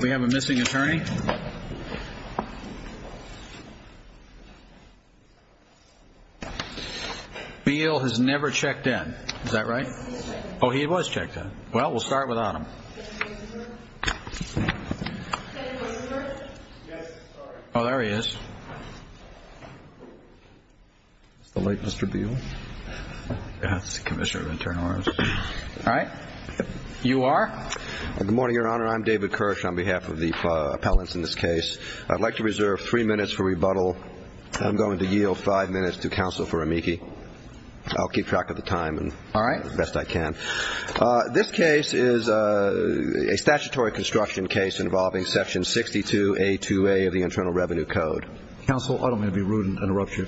We have a missing attorney. Bill has never checked in. Is that right? Oh, he was checked in. Well, we'll start without him. Oh, there he is. It's the late Mr. Beale. That's the Commissioner of Internal Affairs. All right. You are? Good morning, Your Honor. I'm David Kirsch on behalf of the appellants in this case. I'd like to reserve three minutes for rebuttal. I'm going to yield five minutes to counsel for amici. I'll keep track of the time. All right. Best I can. This case is a statutory construction case involving Section 62A2A of the Internal Revenue Code. Counsel, I don't mean to be rude and interrupt you,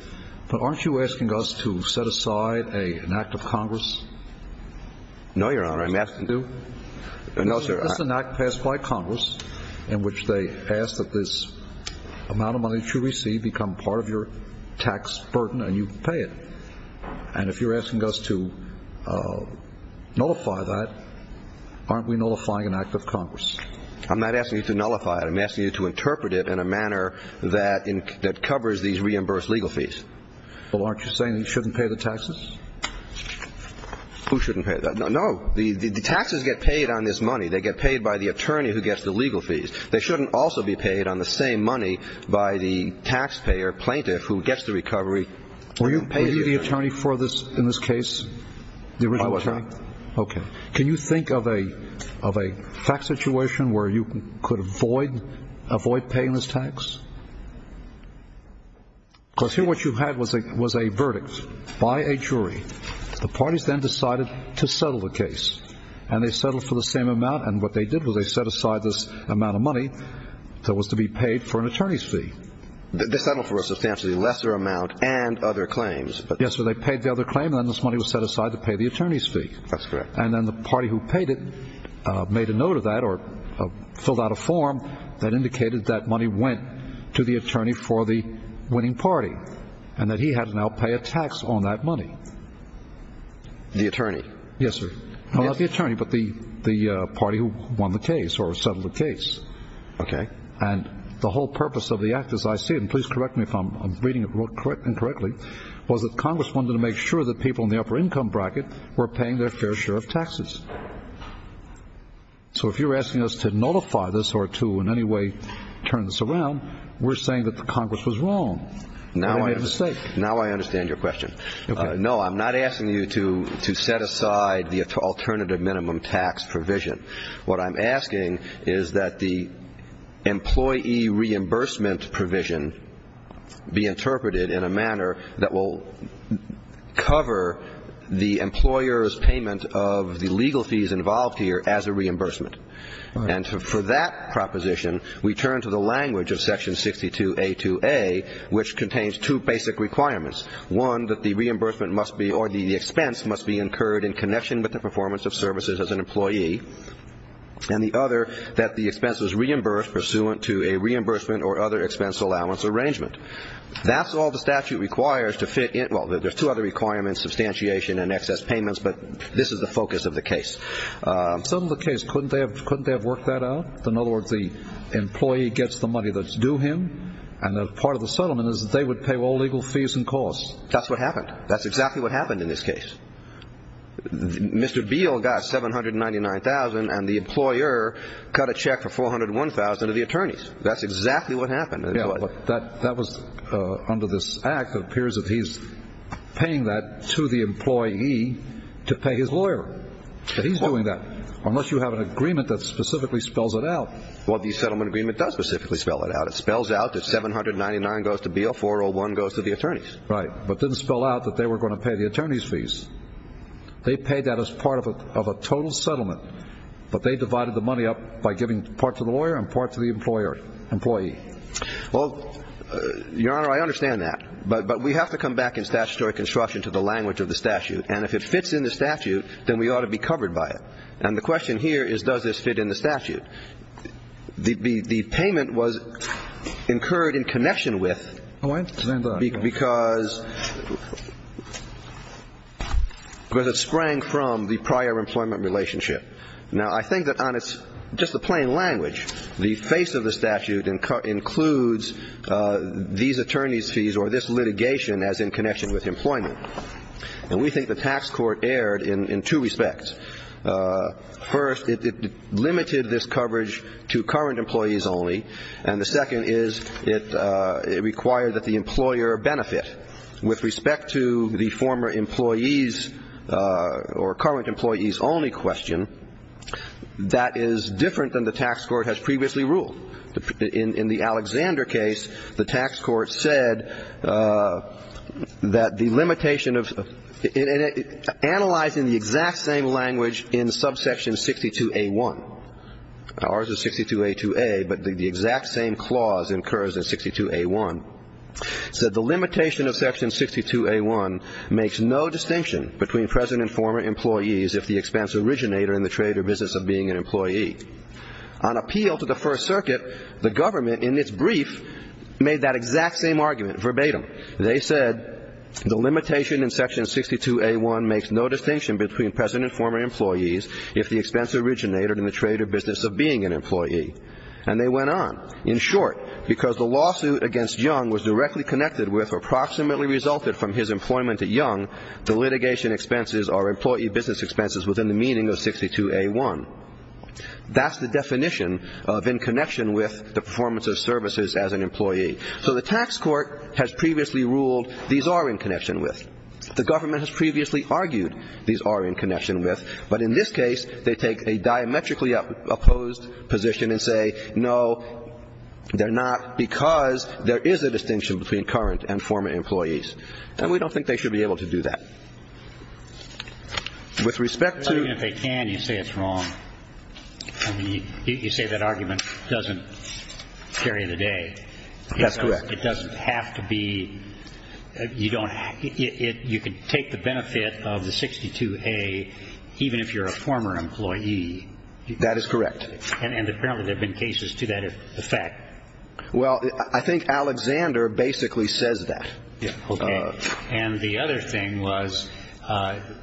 but aren't you asking us to set aside an act of Congress? No, Your Honor. No, sir. This is an act passed by Congress in which they ask that this amount of money that you receive become part of your tax burden and you pay it. And if you're asking us to nullify that, aren't we nullifying an act of Congress? I'm not asking you to nullify it. I'm asking you to interpret it in a manner that covers these reimbursed legal fees. Well, aren't you saying that you shouldn't pay the taxes? Who shouldn't pay that? No. The taxes get paid on this money. They get paid by the attorney who gets the legal fees. They shouldn't also be paid on the same money by the taxpayer plaintiff who gets the recovery. Were you the attorney for this in this case, the original attorney? I was, Your Honor. Okay. Can you think of a fact situation where you could avoid paying this tax? Because here what you had was a verdict by a jury. The parties then decided to settle the case, and they settled for the same amount. And what they did was they set aside this amount of money that was to be paid for an attorney's fee. They settled for a substantially lesser amount and other claims. Yes, but they paid the other claim, and then this money was set aside to pay the attorney's fee. That's correct. And then the party who paid it made a note of that or filled out a form that indicated that money went to the attorney for the winning party, and that he had to now pay a tax on that money. The attorney? Yes, sir. Well, not the attorney, but the party who won the case or settled the case. Okay. And the whole purpose of the act as I see it, and please correct me if I'm reading it incorrectly, was that Congress wanted to make sure that people in the upper income bracket were paying their fair share of taxes. So if you're asking us to notify this or to in any way turn this around, we're saying that the Congress was wrong. Now I understand your question. No, I'm not asking you to set aside the alternative minimum tax provision. What I'm asking is that the employee reimbursement provision be interpreted in a manner that will cover the employer's payment of the legal fees involved here as a reimbursement. And for that proposition, we turn to the language of Section 62A2A, which contains two basic requirements. One, that the reimbursement must be or the expense must be incurred in connection with the performance of services as an employee. And the other, that the expense is reimbursed pursuant to a reimbursement or other expense allowance arrangement. That's all the statute requires to fit in. Well, there's two other requirements, substantiation and excess payments, but this is the focus of the case. Settled the case. Couldn't they have worked that out? In other words, the employee gets the money that's due him, and part of the settlement is that they would pay all legal fees and costs. That's what happened. That's exactly what happened in this case. Mr. Beal got $799,000, and the employer cut a check for $401,000 to the attorneys. That's exactly what happened. Yeah, but that was under this act. It appears that he's paying that to the employee to pay his lawyer. He's doing that. Unless you have an agreement that specifically spells it out. Well, the settlement agreement does specifically spell it out. It spells out that $799 goes to Beal, $401 goes to the attorneys. Right, but didn't spell out that they were going to pay the attorneys' fees. They paid that as part of a total settlement, but they divided the money up by giving part to the lawyer and part to the employee. Well, Your Honor, I understand that. But we have to come back in statutory construction to the language of the statute. And if it fits in the statute, then we ought to be covered by it. And the question here is, does this fit in the statute? The payment was incurred in connection with. Oh, I understand that. Because it sprang from the prior employment relationship. Now, I think that on its just the plain language, the face of the statute includes these attorneys' fees or this litigation as in connection with employment. And we think the tax court erred in two respects. First, it limited this coverage to current employees only. And the second is it required that the employer benefit. With respect to the former employees or current employees only question, that is different than the tax court has previously ruled. In the Alexander case, the tax court said that the limitation of analyzing the exact same language in subsection 62A1. Ours is 62A2A, but the exact same clause incurs in 62A1. It said the limitation of section 62A1 makes no distinction between present and former employees if the expense originator in the trade or business of being an employee. On appeal to the First Circuit, the government in its brief made that exact same argument verbatim. They said the limitation in section 62A1 makes no distinction between present and former employees if the expense originator in the trade or business of being an employee. And they went on. In short, because the lawsuit against Young was directly connected with or approximately resulted from his employment at Young, the litigation expenses are employee business expenses within the meaning of 62A1. That's the definition of in connection with the performance of services as an employee. So the tax court has previously ruled these are in connection with. The government has previously argued these are in connection with. But in this case, they take a diametrically opposed position and say, no, they're not, because there is a distinction between current and former employees. And we don't think they should be able to do that. With respect to. Even if they can, you say it's wrong. You say that argument doesn't carry the day. That's correct. It doesn't have to be. You don't. You can take the benefit of the 62A even if you're a former employee. That is correct. And apparently there have been cases to that effect. Well, I think Alexander basically says that. And the other thing was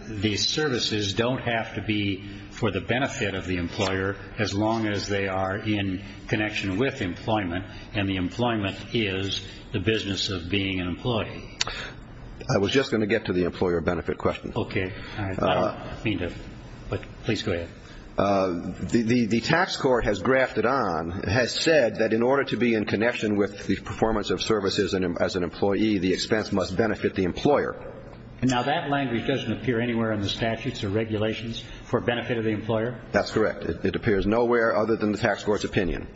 these services don't have to be for the benefit of the employer as long as they are in connection with employment. And the employment is the business of being an employee. I was just going to get to the employer benefit question. OK. But please go ahead. The tax court has grafted on, has said that in order to be in connection with the performance of services as an employee, the expense must benefit the employer. Now, that language doesn't appear anywhere in the statutes or regulations for benefit of the employer. That's correct. It appears nowhere other than the tax court's opinion.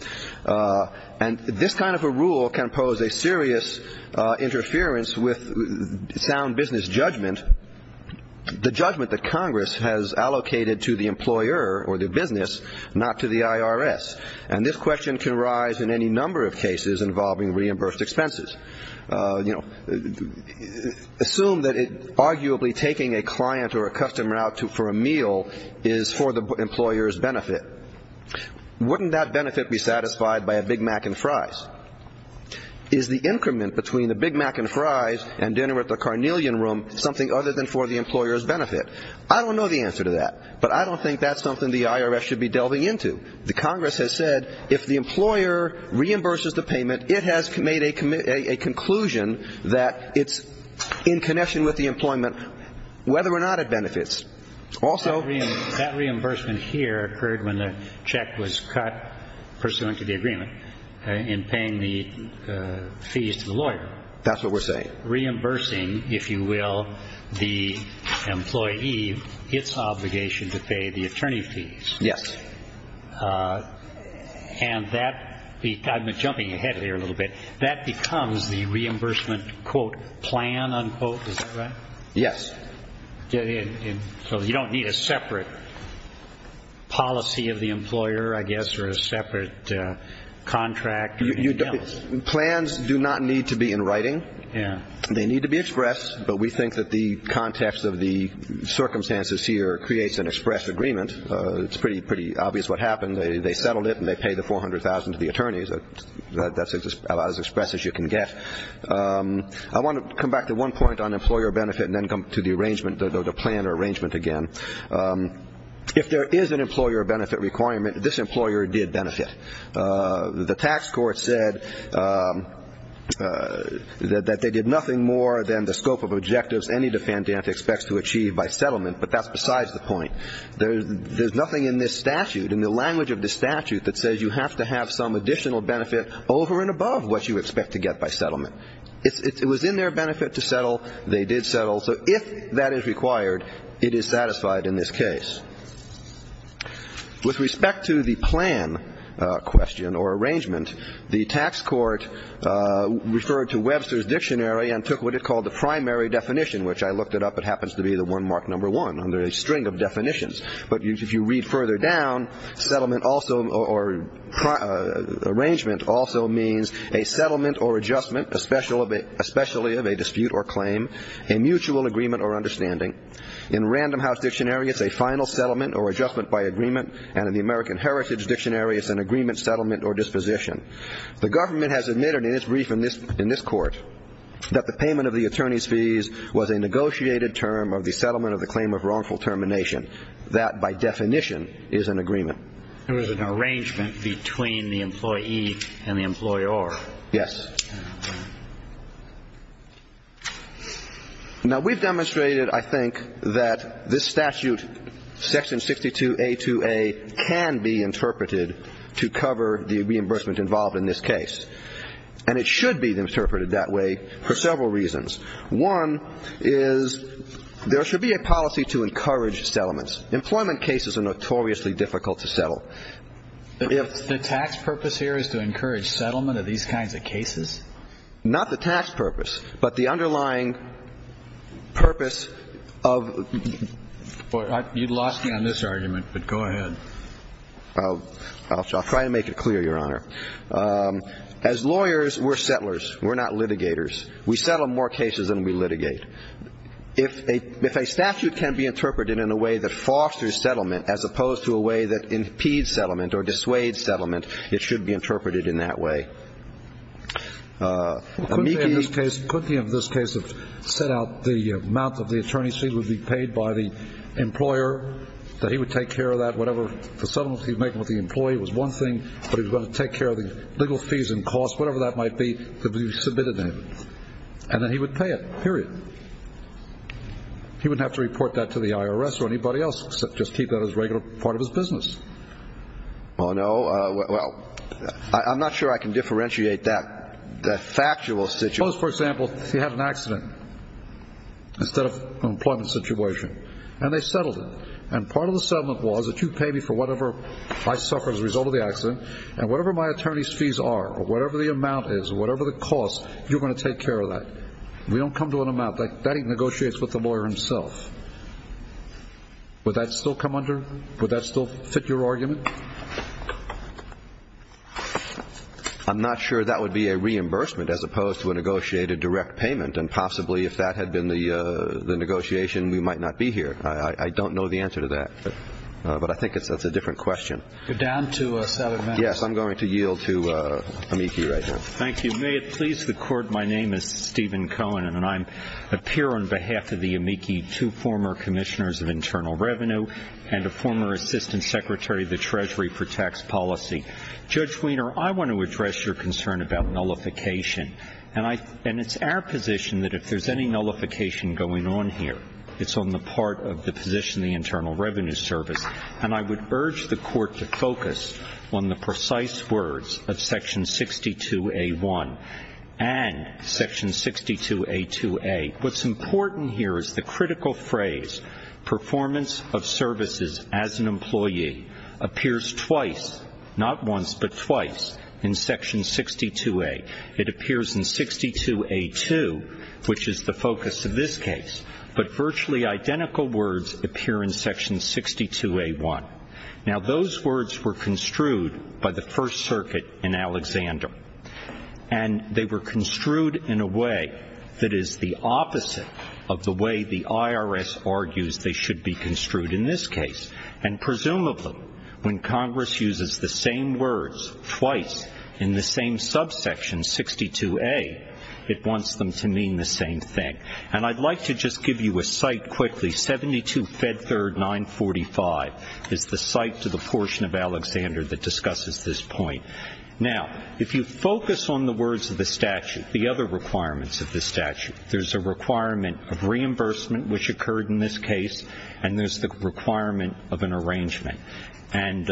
And this kind of a rule can pose a serious interference with sound business judgment. The judgment that Congress has allocated to the employer or the business, not to the IRS. And this question can rise in any number of cases involving reimbursed expenses. You know, assume that arguably taking a client or a customer out for a meal is for the employer's benefit. Wouldn't that benefit be satisfied by a Big Mac and fries? Is the increment between the Big Mac and fries and dinner at the Carnelian Room something other than for the employer's benefit? I don't know the answer to that. But I don't think that's something the IRS should be delving into. The Congress has said if the employer reimburses the payment, it has made a conclusion that it's in connection with the employment whether or not it benefits. Also, that reimbursement here occurred when the check was cut pursuant to the agreement in paying the fees to the lawyer. That's what we're saying. Reimbursing, if you will, the employee its obligation to pay the attorney fees. Yes. And that, I'm jumping ahead here a little bit, that becomes the reimbursement, quote, plan, unquote, is that right? Yes. So you don't need a separate policy of the employer, I guess, or a separate contract? Plans do not need to be in writing. They need to be expressed. But we think that the context of the circumstances here creates an express agreement. It's pretty obvious what happened. They settled it and they paid the $400,000 to the attorneys. That's about as express as you can get. I want to come back to one point on employer benefit and then come to the arrangement, the plan or arrangement again. If there is an employer benefit requirement, this employer did benefit. The tax court said that they did nothing more than the scope of objectives any defendant expects to achieve by settlement, but that's besides the point. There's nothing in this statute, in the language of the statute, that says you have to have some additional benefit over and above what you expect to get by settlement. It was in their benefit to settle. They did settle. So if that is required, it is satisfied in this case. With respect to the plan question or arrangement, the tax court referred to Webster's Dictionary and took what it called the primary definition, which I looked it up. It happens to be the one marked number one under a string of definitions. But if you read further down, settlement also or arrangement also means a settlement or adjustment, especially of a dispute or claim, a mutual agreement or understanding. In Random House Dictionary, it's a final settlement or adjustment by agreement. And in the American Heritage Dictionary, it's an agreement, settlement or disposition. The government has admitted in its brief in this court that the payment of the attorney's fees was a negotiated term of the settlement of the claim of wrongful termination. That, by definition, is an agreement. There was an arrangement between the employee and the employer. Yes. Now, we've demonstrated, I think, that this statute, Section 62A2A, can be interpreted to cover the reimbursement involved in this case. And it should be interpreted that way for several reasons. One is there should be a policy to encourage settlements. Employment cases are notoriously difficult to settle. The tax purpose here is to encourage settlement of these kinds of cases? Not the tax purpose, but the underlying purpose of the ---- You lost me on this argument, but go ahead. I'll try to make it clear, Your Honor. As lawyers, we're settlers. We're not litigators. We settle more cases than we litigate. If a statute can be interpreted in a way that fosters settlement as opposed to a way that impedes settlement or dissuades settlement, it should be interpreted in that way. Could he, in this case, set out the amount of the attorney's fee would be paid by the employer, that he would take care of that, whatever the settlements he would make with the employee was one thing, but he was going to take care of the legal fees and costs, whatever that might be, that would be submitted then. And then he would pay it, period. He wouldn't have to report that to the IRS or anybody else, just keep that as a regular part of his business. Oh, no. Well, I'm not sure I can differentiate that factual situation. Suppose, for example, he had an accident instead of an employment situation, and they settled it. And part of the settlement was that you pay me for whatever I suffer as a result of the accident, and whatever my attorney's fees are or whatever the amount is or whatever the cost, you're going to take care of that. We don't come to an amount. That he negotiates with the lawyer himself. Would that still come under? Would that still fit your argument? I'm not sure that would be a reimbursement as opposed to a negotiated direct payment, and possibly if that had been the negotiation, we might not be here. I don't know the answer to that, but I think that's a different question. You're down to seven minutes. Yes, I'm going to yield to Amici right now. Thank you. May it please the Court, my name is Stephen Cohen, and I'm a peer on behalf of the Amici, two former commissioners of internal revenue, and a former assistant secretary of the Treasury for tax policy. Judge Weiner, I want to address your concern about nullification. And it's our position that if there's any nullification going on here, it's on the part of the position of the Internal Revenue Service. And I would urge the Court to focus on the precise words of Section 62A1 and Section 62A2A. What's important here is the critical phrase, performance of services as an employee appears twice, not once, but twice in Section 62A. It appears in 62A2, which is the focus of this case. But virtually identical words appear in Section 62A1. Now, those words were construed by the First Circuit in Alexander. And they were construed in a way that is the opposite of the way the IRS argues they should be construed in this case. And presumably, when Congress uses the same words twice in the same subsection, 62A, it wants them to mean the same thing. And I'd like to just give you a cite quickly. 72 Fed Third 945 is the cite to the portion of Alexander that discusses this point. Now, if you focus on the words of the statute, the other requirements of the statute, there's a requirement of reimbursement, which occurred in this case, and there's the requirement of an arrangement. And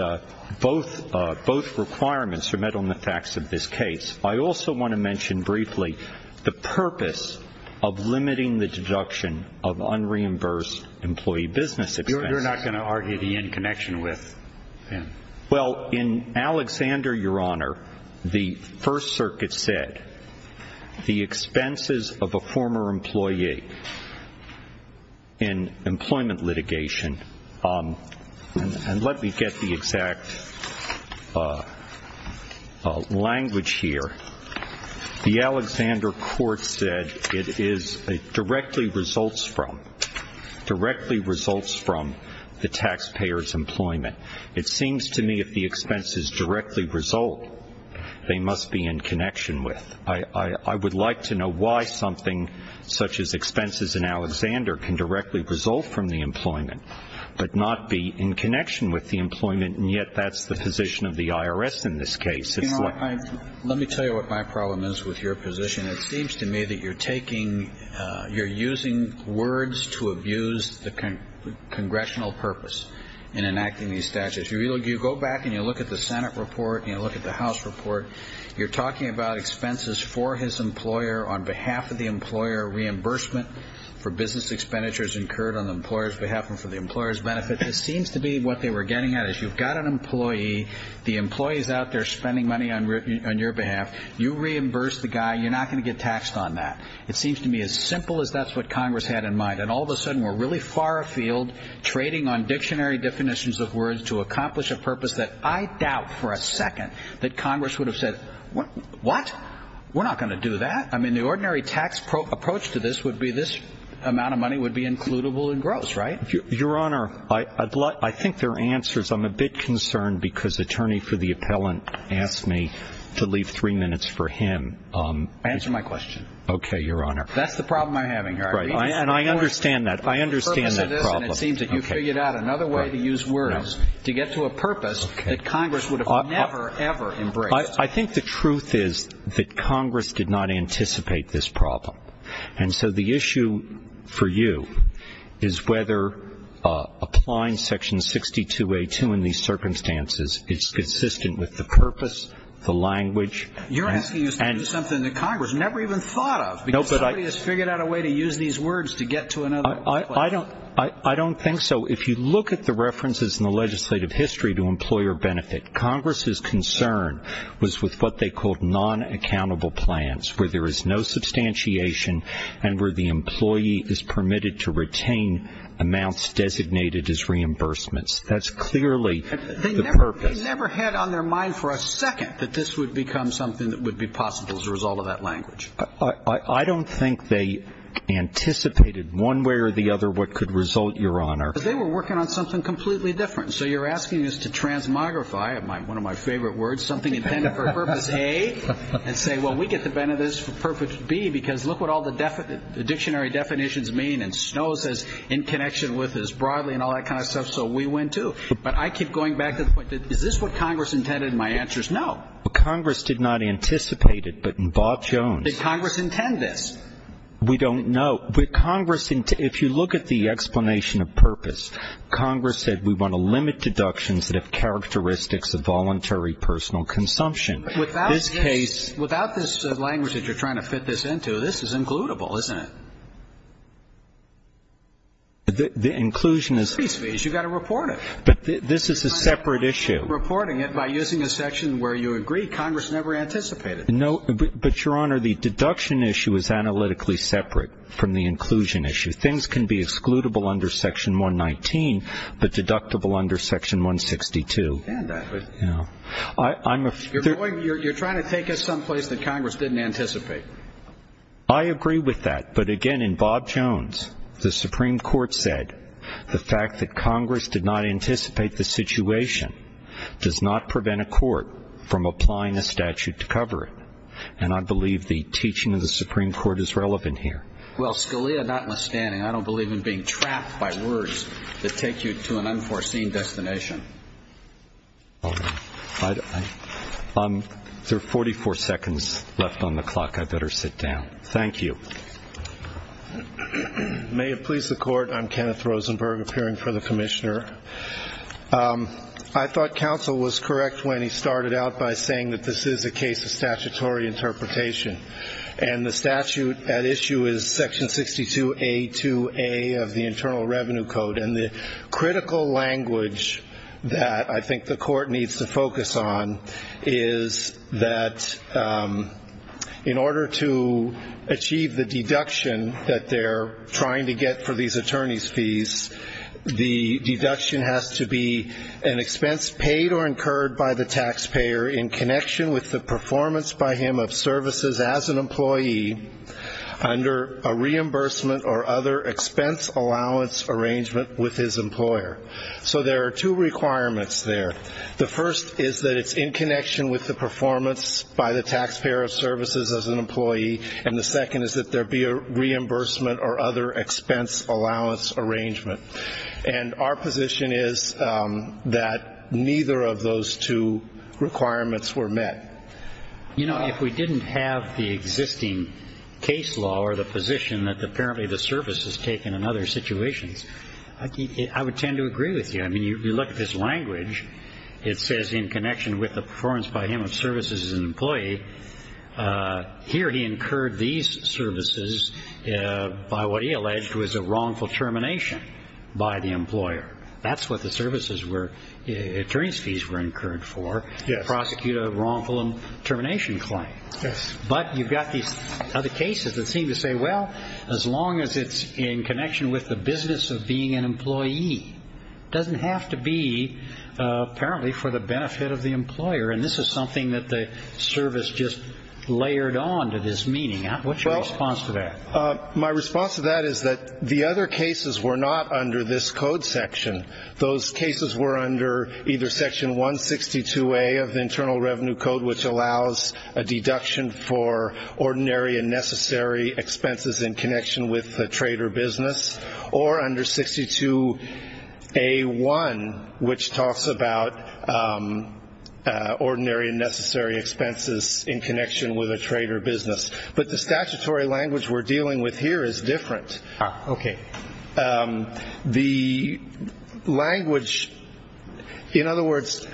both requirements are met on the facts of this case. I also want to mention briefly the purpose of limiting the deduction of unreimbursed employee business expenses. You're not going to argue the end connection with him? Well, in Alexander, Your Honor, the First Circuit said the expenses of a former employee in employment litigation And let me get the exact language here. The Alexander court said it directly results from the taxpayer's employment. It seems to me if the expenses directly result, they must be in connection with. I would like to know why something such as expenses in Alexander can directly result from the employment, but not be in connection with the employment, and yet that's the position of the IRS in this case. Let me tell you what my problem is with your position. It seems to me that you're taking, you're using words to abuse the congressional purpose in enacting these statutes. You go back and you look at the Senate report and you look at the House report. You're talking about expenses for his employer on behalf of the employer, reimbursement for business expenditures incurred on the employer's behalf and for the employer's benefit. It seems to me what they were getting at is you've got an employee. The employee is out there spending money on your behalf. You reimburse the guy. You're not going to get taxed on that. It seems to me as simple as that's what Congress had in mind, and all of a sudden we're really far afield trading on dictionary definitions of words to accomplish a purpose that I doubt for a second that Congress would have said, what? We're not going to do that. I mean the ordinary tax approach to this would be this amount of money would be includable in gross, right? Your Honor, I think there are answers. I'm a bit concerned because attorney for the appellant asked me to leave three minutes for him. Answer my question. Okay, Your Honor. That's the problem I'm having here. And I understand that. I understand that problem. And it seems that you figured out another way to use words to get to a purpose that Congress would have never, ever embraced. I think the truth is that Congress did not anticipate this problem. And so the issue for you is whether applying Section 62A2 in these circumstances is consistent with the purpose, the language. You're asking us to do something that Congress never even thought of, because somebody has figured out a way to use these words to get to another purpose. I don't think so. If you look at the references in the legislative history to employer benefit, Congress's concern was with what they called non-accountable plans, where there is no substantiation and where the employee is permitted to retain amounts designated as reimbursements. That's clearly the purpose. They never had on their mind for a second that this would become something that would be possible as a result of that language. I don't think they anticipated one way or the other what could result, Your Honor. They were working on something completely different. So you're asking us to transmogrify one of my favorite words, something intended for purpose A, and say, well, we get the benefit of this for purpose B, because look what all the dictionary definitions mean. And Snow says in connection with is broadly and all that kind of stuff, so we win too. But I keep going back to the point, is this what Congress intended? And my answer is no. Congress did not anticipate it, but in Bob Jones. Did Congress intend this? We don't know. Congress, if you look at the explanation of purpose, Congress said we want to limit deductions that have characteristics of voluntary personal consumption. Without this language that you're trying to fit this into, this is includable, isn't it? The inclusion is. You've got to report it. This is a separate issue. You're reporting it by using a section where you agree Congress never anticipated. No, but, Your Honor, the deduction issue is analytically separate from the inclusion issue. Things can be excludable under Section 119, but deductible under Section 162. You're trying to take us someplace that Congress didn't anticipate. I agree with that. But, again, in Bob Jones, the Supreme Court said the fact that Congress did not anticipate the situation does not prevent a court from applying a statute to cover it. And I believe the teaching of the Supreme Court is relevant here. Well, Scalia, notwithstanding, I don't believe in being trapped by words that take you to an unforeseen destination. There are 44 seconds left on the clock. I better sit down. Thank you. May it please the Court. I'm Kenneth Rosenberg, appearing for the Commissioner. I thought counsel was correct when he started out by saying that this is a case of statutory interpretation. And the statute at issue is Section 62A2A of the Internal Revenue Code. And the critical language that I think the Court needs to focus on is that in order to achieve the deduction that they're trying to get for these attorney's fees, the deduction has to be an expense paid or incurred by the taxpayer in connection with the performance by him of services as an employee under a reimbursement or other expense allowance arrangement with his employer. So there are two requirements there. The first is that it's in connection with the performance by the taxpayer of services as an employee, and the second is that there be a reimbursement or other expense allowance arrangement. And our position is that neither of those two requirements were met. You know, if we didn't have the existing case law or the position that apparently the service is taken in other situations, I would tend to agree with you. I mean, you look at this language. It says in connection with the performance by him of services as an employee. Here he incurred these services by what he alleged was a wrongful termination by the employer. That's what the services were. Attorney's fees were incurred for. Prosecute a wrongful termination claim. But you've got these other cases that seem to say, well, as long as it's in connection with the business of being an employee, it doesn't have to be apparently for the benefit of the employer. And this is something that the service just layered on to this meaning. What's your response to that? My response to that is that the other cases were not under this code section. Those cases were under either Section 162A of the Internal Revenue Code, which allows a deduction for ordinary and necessary expenses in connection with a trade or business, or under 62A1, which talks about ordinary and necessary expenses in connection with a trade or business. But the statutory language we're dealing with here is different. Okay. The language, in other words,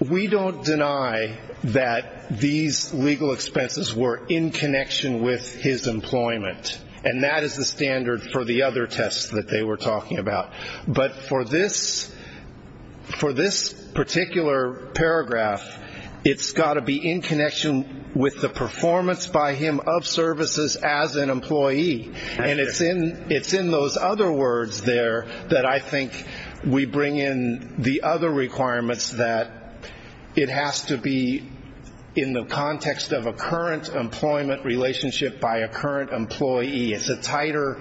we don't deny that these legal expenses were in connection with his employment, and that is the standard for the other tests that they were talking about. But for this particular paragraph, it's got to be in connection with the performance by him of services as an employee, and it's in those other words there that I think we bring in the other requirements that it has to be in the context of a current employment relationship by a current employee. It's a tighter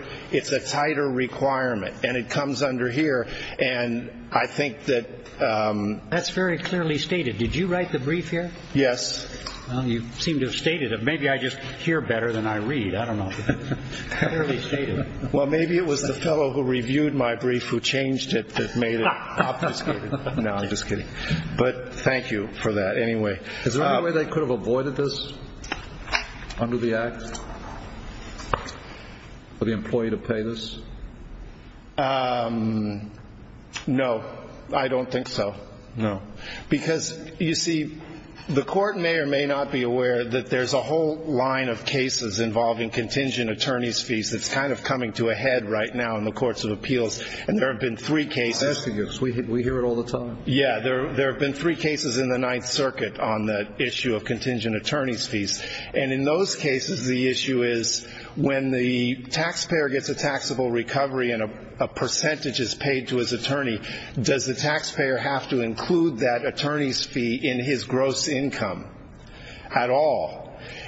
requirement, and it comes under here. And I think that that's very clearly stated. Did you write the brief here? Yes. Well, you seem to have stated it. Maybe I just hear better than I read. I don't know. Fairly stated. Well, maybe it was the fellow who reviewed my brief who changed it that made it obfuscated. No, I'm just kidding. But thank you for that. Anyway. Is there any way they could have avoided this under the Act for the employee to pay this? No, I don't think so. No. Because, you see, the court may or may not be aware that there's a whole line of cases involving contingent attorney's fees that's kind of coming to a head right now in the courts of appeals, and there have been three cases. I'm asking you because we hear it all the time. Yeah, there have been three cases in the Ninth Circuit on the issue of contingent attorney's fees. And in those cases, the issue is when the taxpayer gets a taxable recovery and a percentage is paid to his attorney, does the taxpayer have to include that attorney's fee in his gross income at all?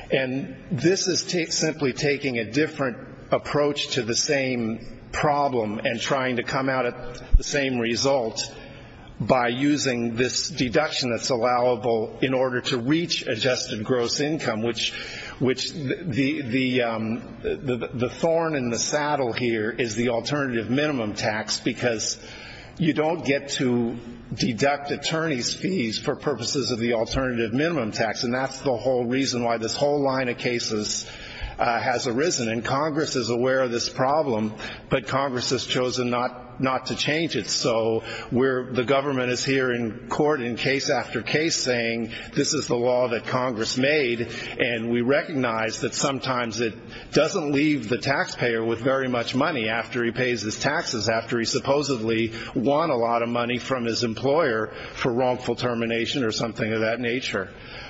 And this is simply taking a different approach to the same problem and trying to come out at the same result by using this deduction that's allowable in order to reach adjusted gross income, which the thorn in the saddle here is the alternative minimum tax because you don't get to deduct attorney's fees for purposes of the alternative minimum tax, and that's the whole reason why this whole line of cases has arisen. And Congress is aware of this problem, but Congress has chosen not to change it. The government is here in court in case after case saying this is the law that Congress made, and we recognize that sometimes it doesn't leave the taxpayer with very much money after he pays his taxes, after he supposedly won a lot of money from his employer for wrongful termination or something of that nature.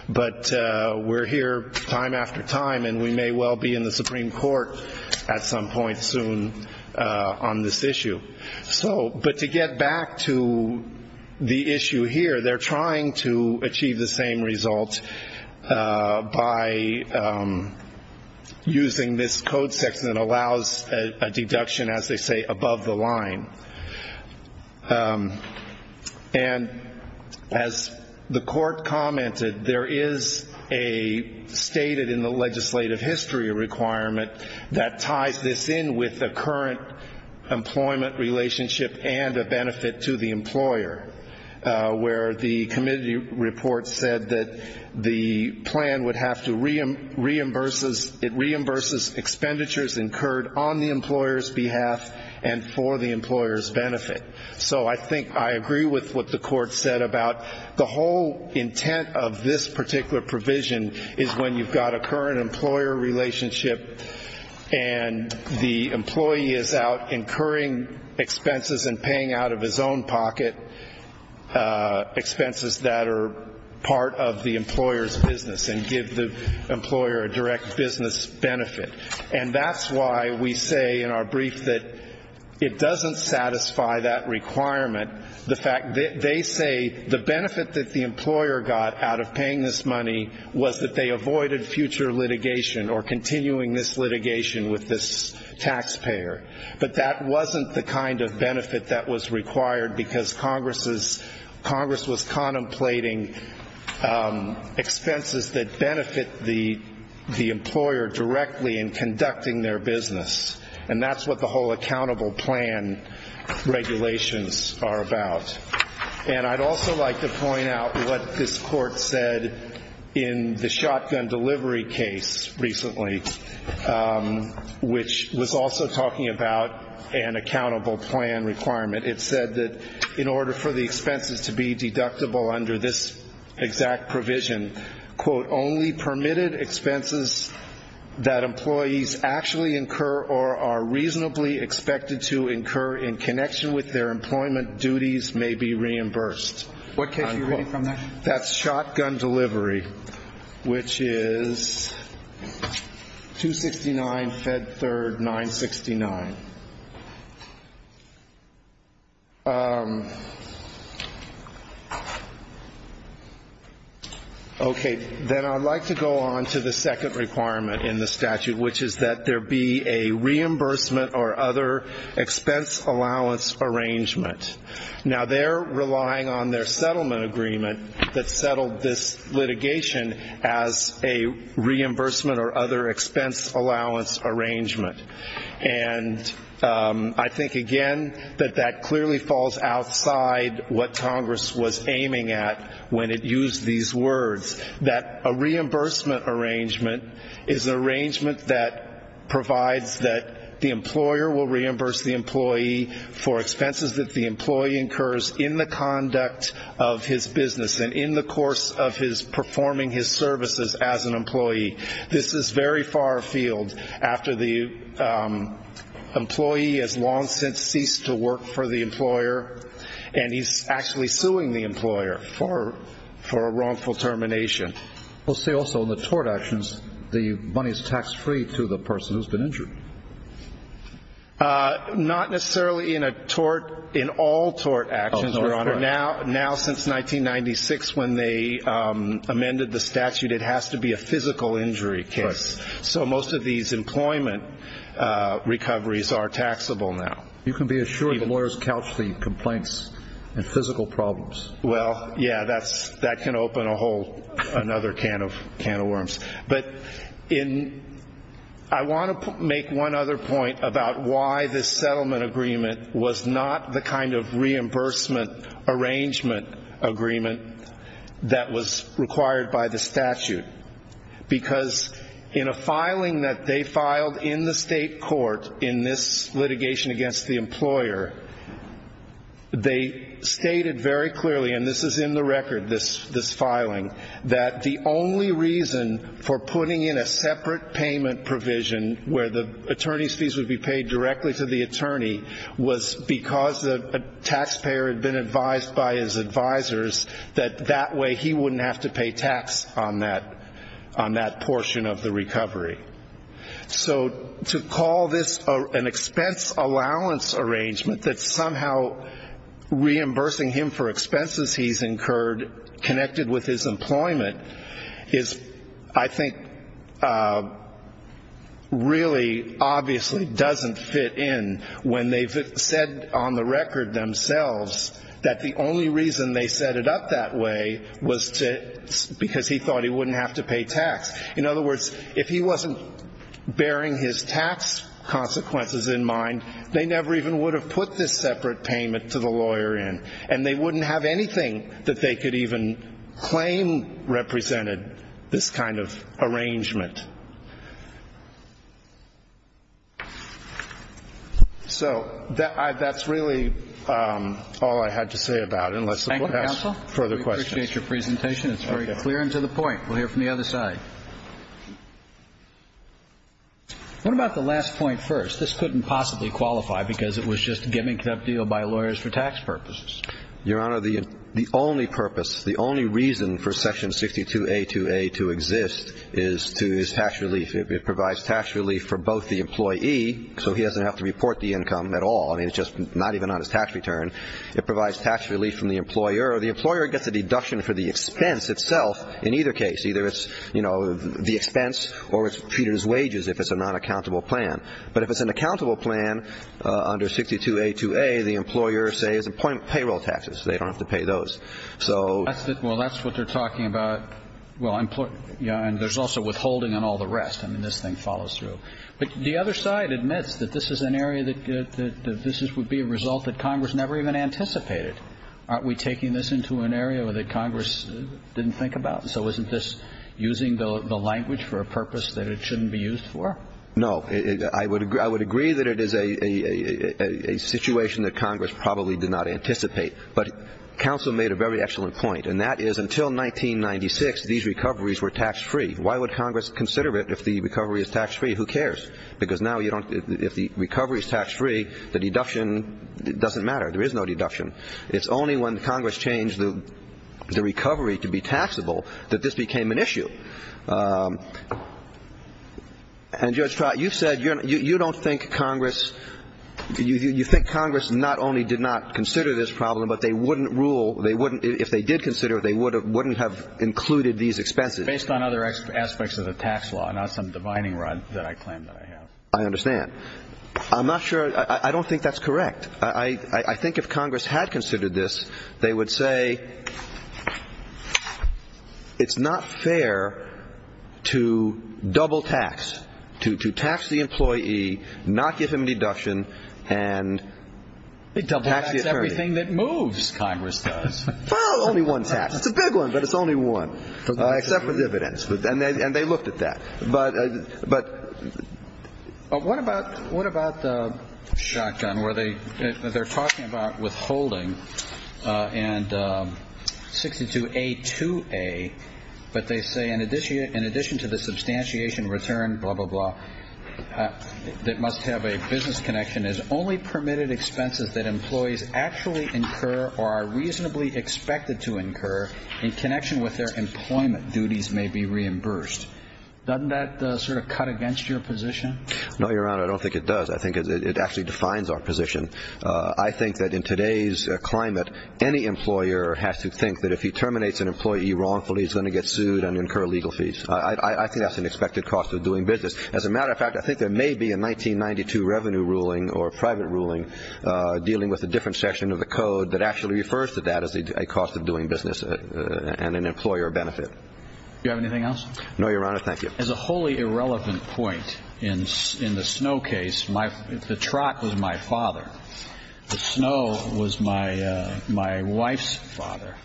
But we're here time after time, and we may well be in the Supreme Court at some point soon on this issue. But to get back to the issue here, they're trying to achieve the same result by using this code section that allows a deduction, as they say, above the line. And as the court commented, there is a stated in the legislative history requirement that ties this in with the current employment relationship and a benefit to the employer, where the committee report said that the plan would have to reimburses expenditures incurred on the employer's behalf and for the employer's benefit. So I think I agree with what the court said about the whole intent of this particular provision is when you've got a current employer relationship, and the employee is out incurring expenses and paying out of his own pocket expenses that are part of the employer's business and give the employer a direct business benefit. And that's why we say in our brief that it doesn't satisfy that requirement. They say the benefit that the employer got out of paying this money was that they avoided future litigation or continuing this litigation with this taxpayer. But that wasn't the kind of benefit that was required because Congress was contemplating expenses that benefit the employer directly in conducting their business. And that's what the whole accountable plan regulations are about. And I'd also like to point out what this court said in the shotgun delivery case recently, which was also talking about an accountable plan requirement. It said that in order for the expenses to be deductible under this exact provision, quote, only permitted expenses that employees actually incur or are reasonably expected to incur in connection with their employment duties may be reimbursed. What case are you reading from that? That's shotgun delivery, which is 269 Fed Third 969. Okay. Then I'd like to go on to the second requirement in the statute, which is that there be a reimbursement or other expense allowance arrangement. Now, they're relying on their settlement agreement that settled this litigation as a reimbursement or other expense allowance arrangement. And I think, again, that that clearly falls outside what Congress was aiming at when it used these words, that a reimbursement arrangement is an arrangement that provides that the employer will reimburse the employee for expenses that the employee incurs in the conduct of his business and in the course of his performing his services as an employee. This is very far afield after the employee has long since ceased to work for the employer, and he's actually suing the employer for a wrongful termination. We'll see also in the tort actions the money is tax-free to the person who's been injured. Not necessarily in a tort, in all tort actions, Your Honor. Now since 1996 when they amended the statute, it has to be a physical injury case. So most of these employment recoveries are taxable now. You can be assured the lawyers couch the complaints in physical problems. Well, yeah, that can open a whole another can of worms. But I want to make one other point about why this settlement agreement was not the kind of reimbursement arrangement agreement that was required by the statute. Because in a filing that they filed in the state court in this litigation against the employer, they stated very clearly, and this is in the record, this filing, that the only reason for putting in a separate payment provision where the attorney's fees would be paid directly to the attorney was because the taxpayer had been advised by his advisors that that way he wouldn't have to pay tax on that portion of the recovery. So to call this an expense allowance arrangement that somehow reimbursing him for expenses he's incurred connected with his employment is I think really obviously doesn't fit in when they've said on the record themselves that the only reason they set it up that way was because he thought he wouldn't have to pay tax. In other words, if he wasn't bearing his tax consequences in mind, they never even would have put this separate payment to the lawyer in, and they wouldn't have anything that they could even claim represented this kind of arrangement. So that's really all I had to say about it, unless the Court has further questions. Thank you, counsel. We appreciate your presentation. It's very clear and to the point. We'll hear from the other side. What about the last point first? This couldn't possibly qualify because it was just a gimmicked up deal by lawyers for tax purposes. Your Honor, the only purpose, the only reason for Section 62A2A to exist is to his tax relief. It provides tax relief for both the employee, so he doesn't have to report the income at all. I mean, it's just not even on his tax return. It provides tax relief from the employer. The employer gets a deduction for the expense itself in either case. Either it's, you know, the expense or it's treated as wages if it's a non-accountable plan. But if it's an accountable plan under 62A2A, the employer, say, has payroll taxes. They don't have to pay those. Well, that's what they're talking about. And there's also withholding and all the rest. I mean, this thing follows through. But the other side admits that this is an area that this would be a result that Congress never even anticipated. Aren't we taking this into an area that Congress didn't think about? So isn't this using the language for a purpose that it shouldn't be used for? No. I would agree that it is a situation that Congress probably did not anticipate. But counsel made a very excellent point, and that is until 1996, these recoveries were tax-free. Why would Congress consider it if the recovery is tax-free? Who cares? Because now you don't – if the recovery is tax-free, the deduction doesn't matter. There is no deduction. It's only when Congress changed the recovery to be taxable that this became an issue. And, Judge Trott, you said you don't think Congress – you think Congress not only did not consider this problem, but they wouldn't rule – they wouldn't – if they did consider it, they wouldn't have included these expenses. Based on other aspects of the tax law, not some divining rod that I claim that I have. I understand. I'm not sure – I don't think that's correct. I think if Congress had considered this, they would say it's not fair to double-tax, to tax the employee, not give him a deduction, and tax the attorney. It double-tax everything that moves, Congress does. Well, only one tax. It's a big one, but it's only one. Except for dividends. And they looked at that. But what about shotgun, where they're talking about withholding and 62A2A, but they say in addition to the substantiation return, blah, blah, blah, that must have a business connection is only permitted expenses that employees actually incur or are reasonably expected to incur in connection with their employment duties may be reimbursed. Doesn't that sort of cut against your position? No, Your Honor, I don't think it does. I think it actually defines our position. I think that in today's climate, any employer has to think that if he terminates an employee wrongfully, he's going to get sued and incur legal fees. I think that's an expected cost of doing business. As a matter of fact, I think there may be a 1992 revenue ruling or a private ruling dealing with a different section of the code that actually refers to that as a cost of doing business and an employer benefit. Do you have anything else? No, Your Honor, thank you. As a wholly irrelevant point in the Snow case, the trot was my father. Snow was my wife's father.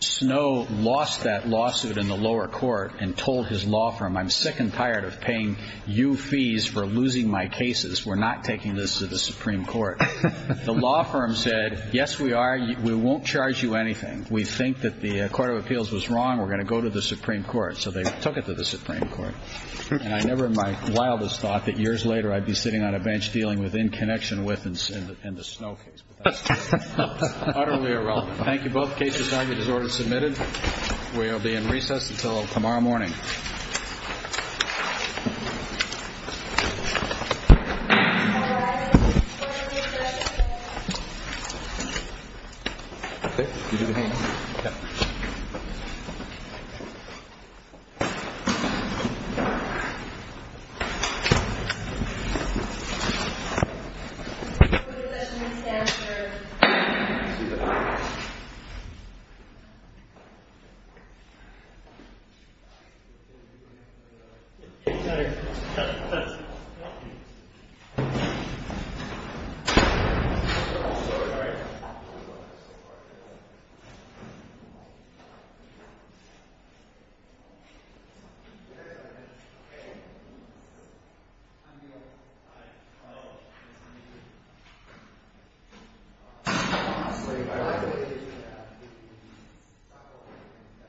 Snow lost that lawsuit in the lower court and told his law firm, I'm sick and tired of paying you fees for losing my cases. We're not taking this to the Supreme Court. The law firm said, yes, we are. We won't charge you anything. We think that the Court of Appeals was wrong. We're going to go to the Supreme Court. So they took it to the Supreme Court. And I never in my wildest thought that years later I'd be sitting on a bench dealing with in connection with and in the Snow case. Utterly irrelevant. Thank you. Both cases argued as ordered and submitted. We will be in recess until tomorrow morning. Thank you. Thank you. Thank you.